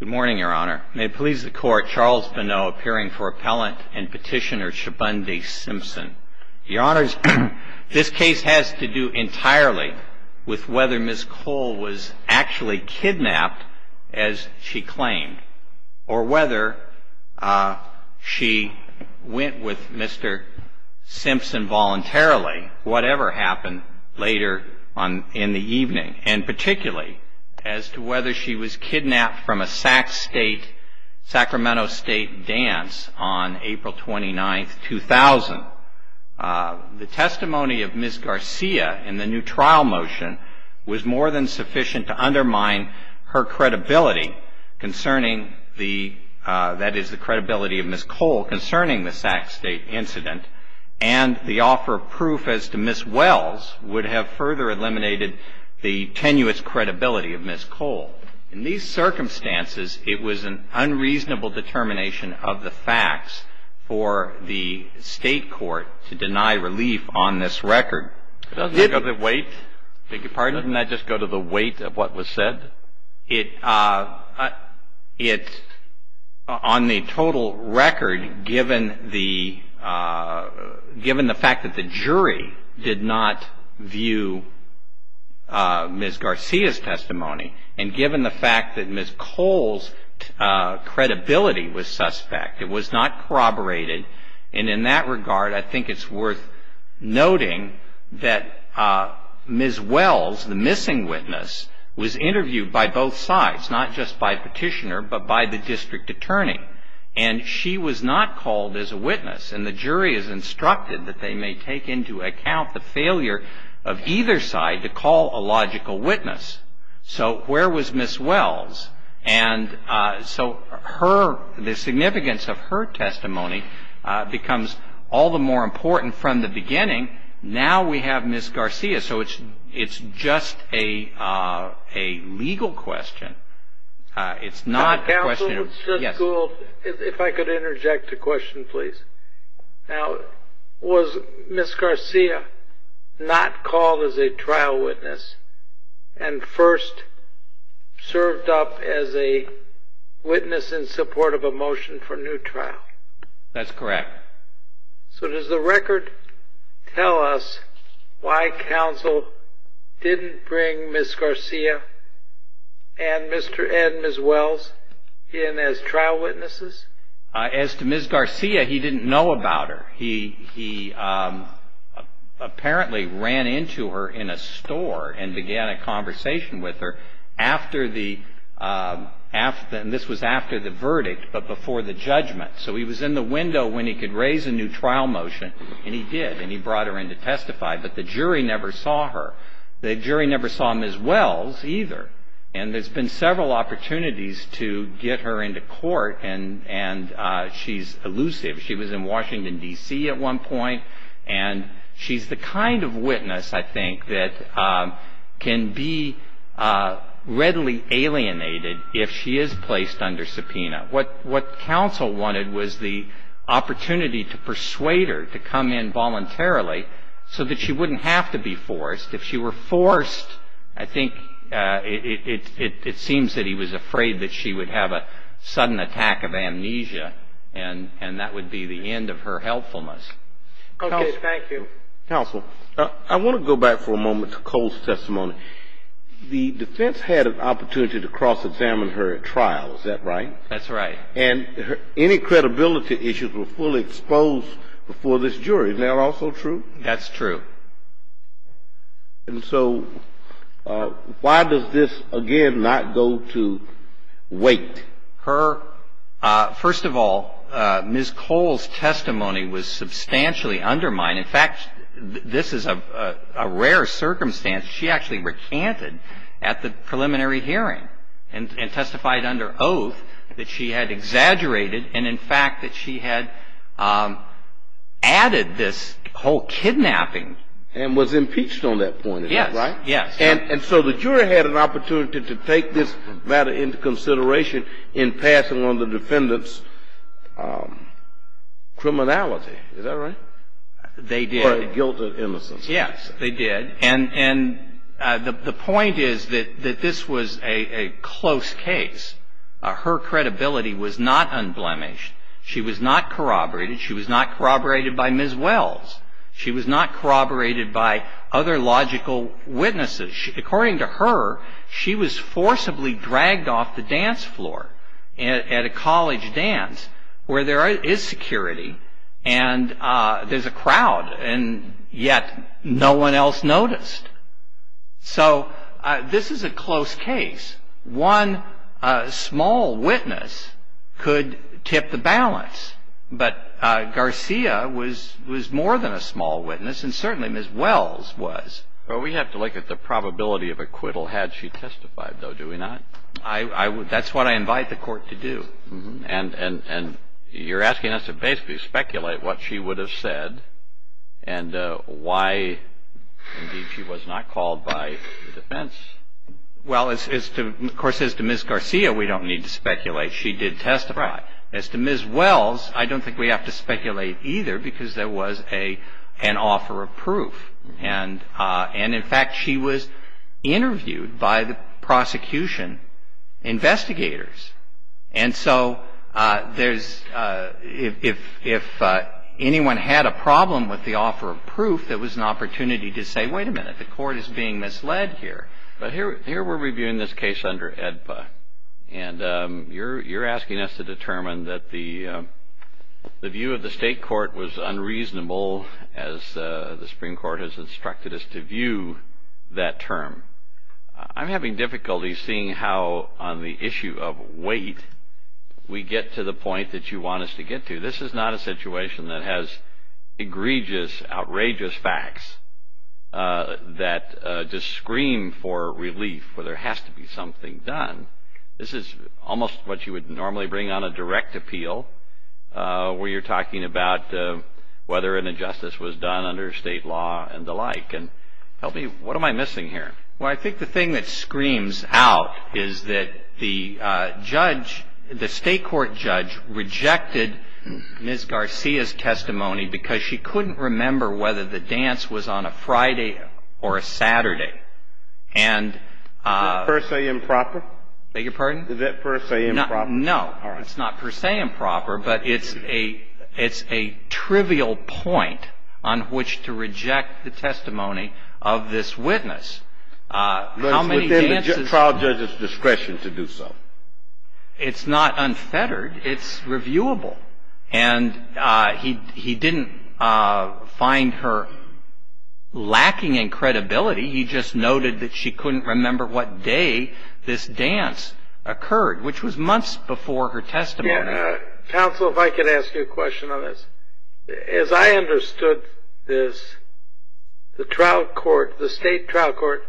Good morning, Your Honor. May it please the Court, Charles Benot appearing for appellant and petitioner Shabondy Simpson. Your Honor, this case has to do entirely with whether Ms. Cole was actually kidnapped, as she claimed, or whether she went with Mr. Simpson voluntarily, whatever happened later in the evening, and particularly as to whether she was kidnapped from a Sacramento State dance on April 29, 2000. The testimony of Ms. Garcia in the new trial motion was more than sufficient to undermine her credibility, that is, the credibility of Ms. Cole concerning the Sac State incident, and the offer of proof as to Ms. Wells would have further eliminated the tenuous credibility of Ms. Cole. In these circumstances, it was an unreasonable determination of the facts for the State court to deny relief on this record. Doesn't that go to the weight? Beg your pardon? Doesn't that just go to the weight of what was said? It, on the total record, given the fact that the jury did not view Ms. Garcia's testimony, and given the fact that Ms. Cole's credibility was suspect, it was not corroborated, and in that regard, I think it's worth noting that Ms. Wells, the missing witness, was interviewed by both sides, not just by petitioner, but by the district attorney, and she was not called as a witness, and the jury is instructed that they may take into account the failure of either side to call a logical witness. So where was Ms. Wells? And so the significance of her testimony becomes all the more important from the beginning. Now we have Ms. Garcia, so it's just a legal question. It's not a question of – Now, was Ms. Garcia not called as a trial witness and first served up as a witness in support of a motion for new trial? That's correct. So does the record tell us why counsel didn't bring Ms. Garcia and Ms. Wells in as trial witnesses? As to Ms. Garcia, he didn't know about her. He apparently ran into her in a store and began a conversation with her after the – and this was after the verdict, but before the judgment. So he was in the window when he could raise a new trial motion, and he did, and he brought her in to testify, but the jury never saw her. The jury never saw Ms. Wells either, And there's been several opportunities to get her into court, and she's elusive. She was in Washington, D.C. at one point, and she's the kind of witness, I think, that can be readily alienated if she is placed under subpoena. What counsel wanted was the opportunity to persuade her to come in voluntarily so that she wouldn't have to be forced. If she were forced, I think it seems that he was afraid that she would have a sudden attack of amnesia, and that would be the end of her helpfulness. Okay, thank you. Counsel, I want to go back for a moment to Cole's testimony. The defense had an opportunity to cross-examine her at trial, is that right? That's right. And any credibility issues were fully exposed before this jury. Isn't that also true? That's true. And so why does this, again, not go to weight? First of all, Ms. Cole's testimony was substantially undermined. In fact, this is a rare circumstance. She actually recanted at the preliminary hearing and testified under oath that she had exaggerated and, in fact, that she had added this whole kidnapping. And was impeached on that point, is that right? Yes, yes. And so the jury had an opportunity to take this matter into consideration in passing on the defendant's criminality. Is that right? They did. Or guilt or innocence. Yes, they did. And the point is that this was a close case. Her credibility was not unblemished. She was not corroborated. She was not corroborated by Ms. Wells. She was not corroborated by other logical witnesses. According to her, she was forcibly dragged off the dance floor at a college dance where there is security and there's a crowd and yet no one else noticed. So this is a close case. One small witness could tip the balance. But Garcia was more than a small witness and certainly Ms. Wells was. Well, we have to look at the probability of acquittal had she testified, though, do we not? That's what I invite the Court to do. And you're asking us to basically speculate what she would have said and why, indeed, she was not called by the defense. Well, of course, as to Ms. Garcia, we don't need to speculate. She did testify. As to Ms. Wells, I don't think we have to speculate either because there was an offer of proof. And, in fact, she was interviewed by the prosecution investigators. And so if anyone had a problem with the offer of proof, there was an opportunity to say, wait a minute, the Court is being misled here. But here we're reviewing this case under AEDPA, and you're asking us to determine that the view of the State Court was unreasonable as the Supreme Court has instructed us to view that term. I'm having difficulty seeing how on the issue of weight we get to the point that you want us to get to. This is not a situation that has egregious, outrageous facts. That to scream for relief where there has to be something done, this is almost what you would normally bring on a direct appeal where you're talking about whether an injustice was done under State law and the like. And help me, what am I missing here? Well, I think the thing that screams out is that the judge, the State Court judge, rejected Ms. Garcia's testimony because she couldn't remember whether the dance was on a Friday or a Saturday. Is that per se improper? Beg your pardon? Is that per se improper? No. All right. It's not per se improper, but it's a trivial point on which to reject the testimony of this witness. But it's within the trial judge's discretion to do so. It's not unfettered. It's reviewable. And he didn't find her lacking in credibility. He just noted that she couldn't remember what day this dance occurred, which was months before her testimony. Counsel, if I could ask you a question on this. As I understood this, the trial court, the State trial court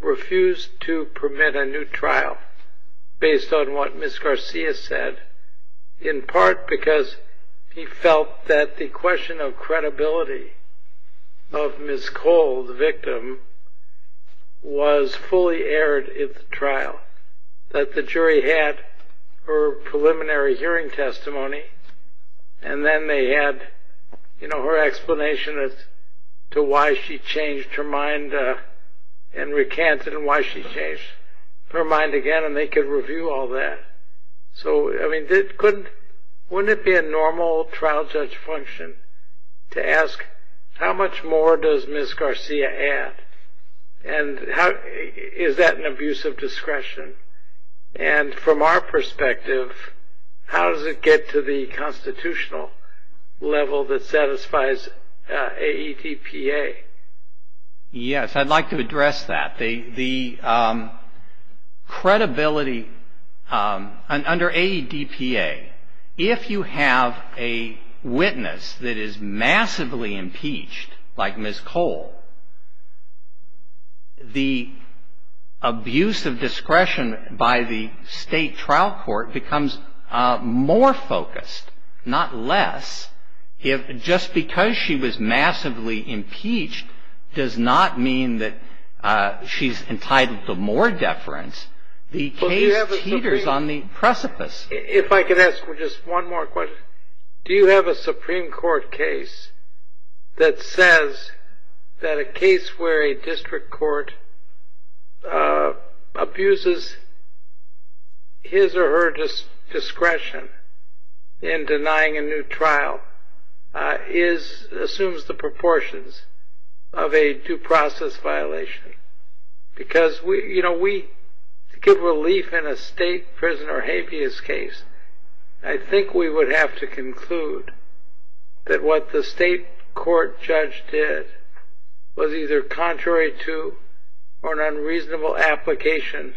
refused to permit a new trial based on what Ms. Garcia said, in part because he felt that the question of credibility of Ms. Cole, the victim, was fully aired at the trial, that the jury had her preliminary hearing testimony, and then they had, you know, her explanation as to why she changed her mind and recanted and why she changed her mind again, and they could review all that. So, I mean, wouldn't it be a normal trial judge function to ask, how much more does Ms. Garcia add? And is that an abuse of discretion? And from our perspective, how does it get to the constitutional level that satisfies AEDPA? Yes, I'd like to address that. The credibility under AEDPA, if you have a witness that is massively impeached, like Ms. Cole, the abuse of discretion by the State trial court becomes more focused, not less. Just because she was massively impeached does not mean that she's entitled to more deference. The case teeters on the precipice. If I could ask just one more question. Do you have a Supreme Court case that says that a case where a district court abuses his or her discretion in denying a new trial assumes the proportions of a due process violation? To give relief in a State prisoner habeas case, I think we would have to conclude that what the State court judge did was either contrary to or an unreasonable application,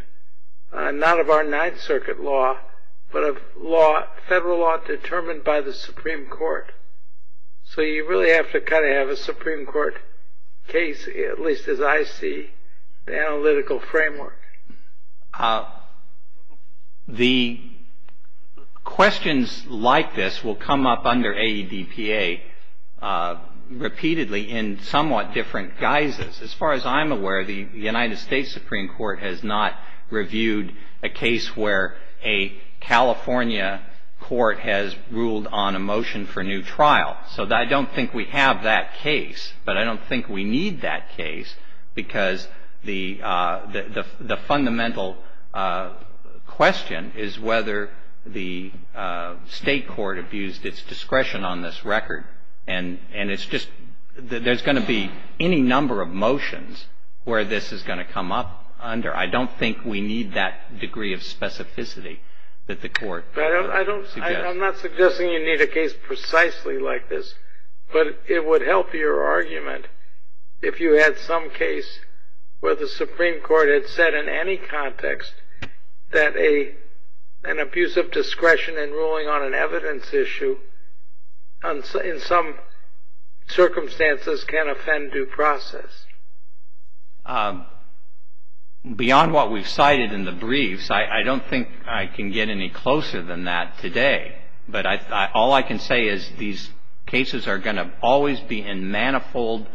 not of our Ninth Circuit law, but of federal law determined by the Supreme Court. So you really have to kind of have a Supreme Court case, at least as I see the analytical framework. The questions like this will come up under AEDPA repeatedly in somewhat different guises. As far as I'm aware, the United States Supreme Court has not reviewed a case where a California court has ruled on a motion for a new trial. So I don't think we have that case, but I don't think we need that case because the fundamental question is whether the State court abused its discretion on this record. And it's just that there's going to be any number of motions where this is going to come up under. I don't think we need that degree of specificity that the court suggests. I'm not suggesting you need a case precisely like this, but it would help your argument if you had some case where the Supreme Court had said in any context that an abuse of discretion in ruling on an evidence issue in some circumstances can offend due process. Beyond what we've cited in the briefs, I don't think I can get any closer than that today. But all I can say is these cases are going to always be in manifold,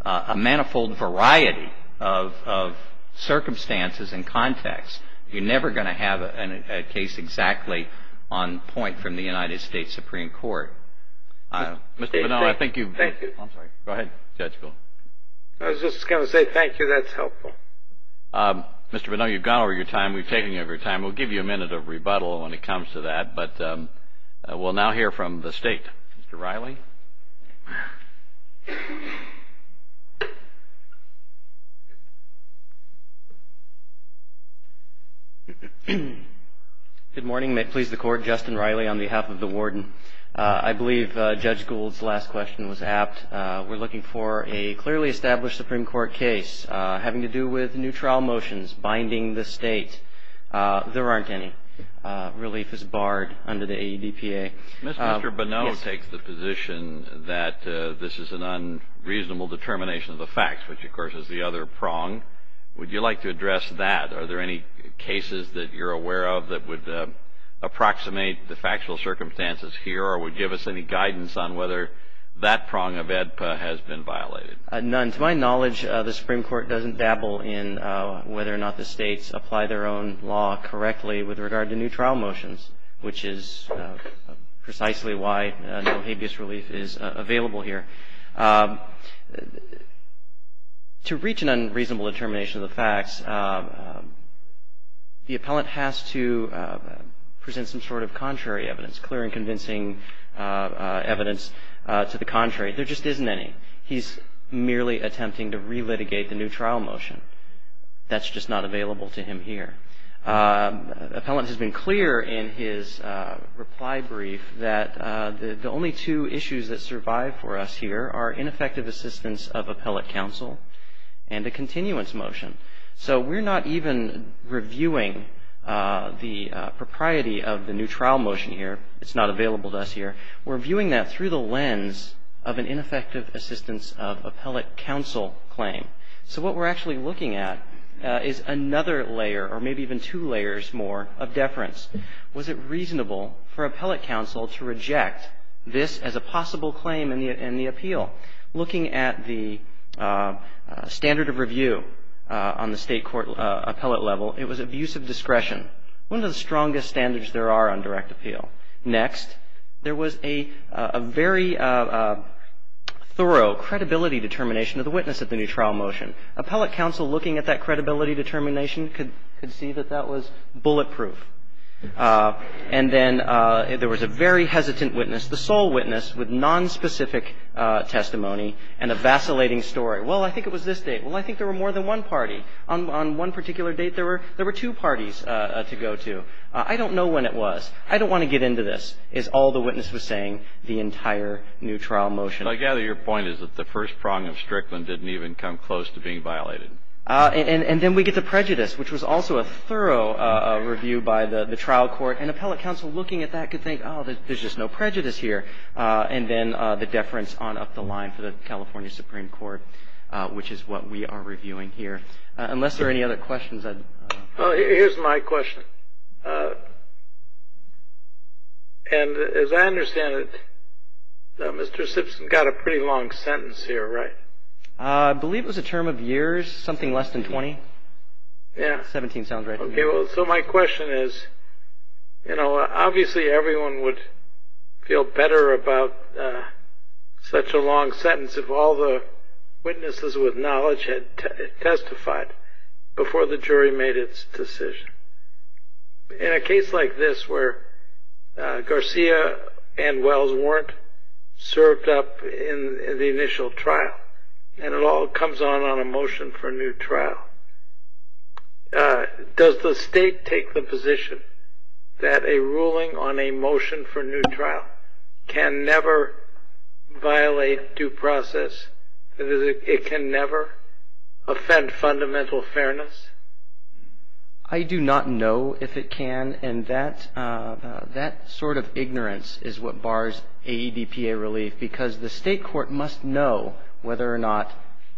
a manifold variety of circumstances and contexts. You're never going to have a case exactly on point from the United States Supreme Court. Mr. Bonneau, I think you've. Thank you. I'm sorry. Go ahead, Judge Bowen. I was just going to say thank you. That's helpful. Mr. Bonneau, you've gone over your time. We've taken over your time. We'll give you a minute of rebuttal when it comes to that, but we'll now hear from the State. Mr. Riley? Good morning. May it please the Court. I'm Justin Riley on behalf of the Warden. I believe Judge Gould's last question was apt. We're looking for a clearly established Supreme Court case having to do with new trial motions binding the State. There aren't any. Relief is barred under the AEDPA. Mr. Bonneau takes the position that this is an unreasonable determination of the facts, which, of course, is the other prong. Would you like to address that? Are there any cases that you're aware of that would approximate the factual circumstances here or would give us any guidance on whether that prong of AEDPA has been violated? None. To my knowledge, the Supreme Court doesn't dabble in whether or not the States apply their own law correctly with regard to new trial motions, which is precisely why no habeas relief is available here. To reach an unreasonable determination of the facts, the appellant has to present some sort of contrary evidence, clear and convincing evidence to the contrary. There just isn't any. He's merely attempting to relitigate the new trial motion. That's just not available to him here. Appellant has been clear in his reply brief that the only two issues that survive for us here are ineffective assistance of appellate counsel and a continuance motion. So we're not even reviewing the propriety of the new trial motion here. It's not available to us here. We're viewing that through the lens of an ineffective assistance of appellate counsel claim. So what we're actually looking at is another layer or maybe even two layers more of deference. Was it reasonable for appellate counsel to reject this as a possible claim in the appeal? Looking at the standard of review on the State court appellate level, it was abuse of discretion, one of the strongest standards there are on direct appeal. Next, there was a very thorough credibility determination of the witness at the new trial motion. Appellate counsel looking at that credibility determination could see that that was bulletproof. And then there was a very hesitant witness, the sole witness with nonspecific testimony and a vacillating story. Well, I think it was this date. Well, I think there were more than one party. On one particular date, there were two parties to go to. I don't know when it was. I don't want to get into this, is all the witness was saying, the entire new trial motion. I gather your point is that the first prong of Strickland didn't even come close to being violated. And then we get the prejudice, which was also a thorough review by the trial court. And appellate counsel looking at that could think, oh, there's just no prejudice here. And then the deference on up the line for the California Supreme Court, which is what we are reviewing here. Unless there are any other questions. Here's my question. And as I understand it, Mr. Simpson got a pretty long sentence here, right? I believe it was a term of years, something less than 20. 17 sounds right. OK, well, so my question is, you know, obviously everyone would feel better about such a long sentence if all the witnesses with knowledge had testified before the jury made its decision. In a case like this where Garcia and Wells weren't served up in the initial trial, and it all comes on on a motion for a new trial, does the state take the position that a ruling on a motion for a new trial can never violate due process, that it can never offend fundamental fairness? I do not know if it can. And that sort of ignorance is what bars AEDPA relief, because the state court must know whether or not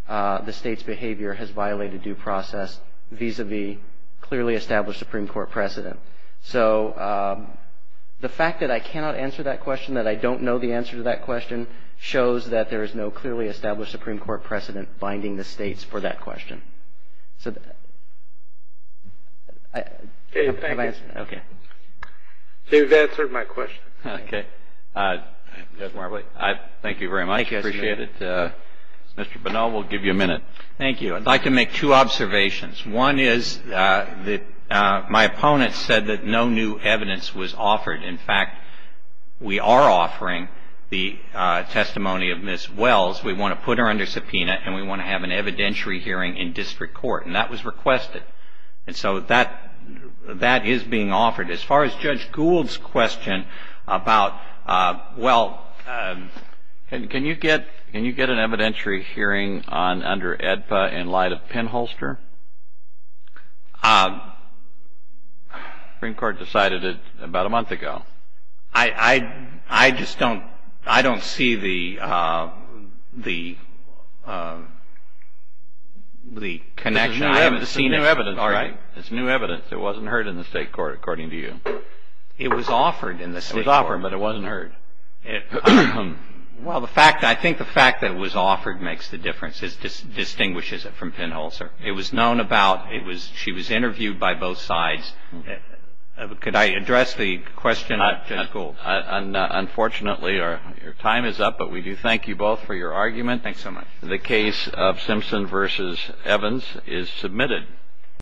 the state's behavior has violated due process, vis-a-vis clearly established Supreme Court precedent. So the fact that I cannot answer that question, that I don't know the answer to that question, shows that there is no clearly established Supreme Court precedent binding the states for that question. OK, thank you. So you've answered my question. OK. Thank you very much. I appreciate it. Mr. Bonnell, we'll give you a minute. Thank you. I'd like to make two observations. One is that my opponent said that no new evidence was offered. In fact, we are offering the testimony of Ms. Wells. We want to put her under subpoena, and we want to have an evidentiary hearing in district court. And that was requested. And so that is being offered. As far as Judge Gould's question about, well, can you get an evidentiary hearing under AEDPA in light of pinholster? Supreme Court decided it about a month ago. I just don't see the connection. I haven't seen it. It's new evidence, right? It's new evidence. It wasn't heard in the state court, according to you. It was offered in the state court. It was offered, but it wasn't heard. Well, I think the fact that it was offered makes the difference. It distinguishes it from pinholster. It was known about. She was interviewed by both sides. Could I address the question of Judge Gould? Unfortunately, your time is up, but we do thank you both for your argument. Thanks so much. The case of Simpson v. Evans is submitted.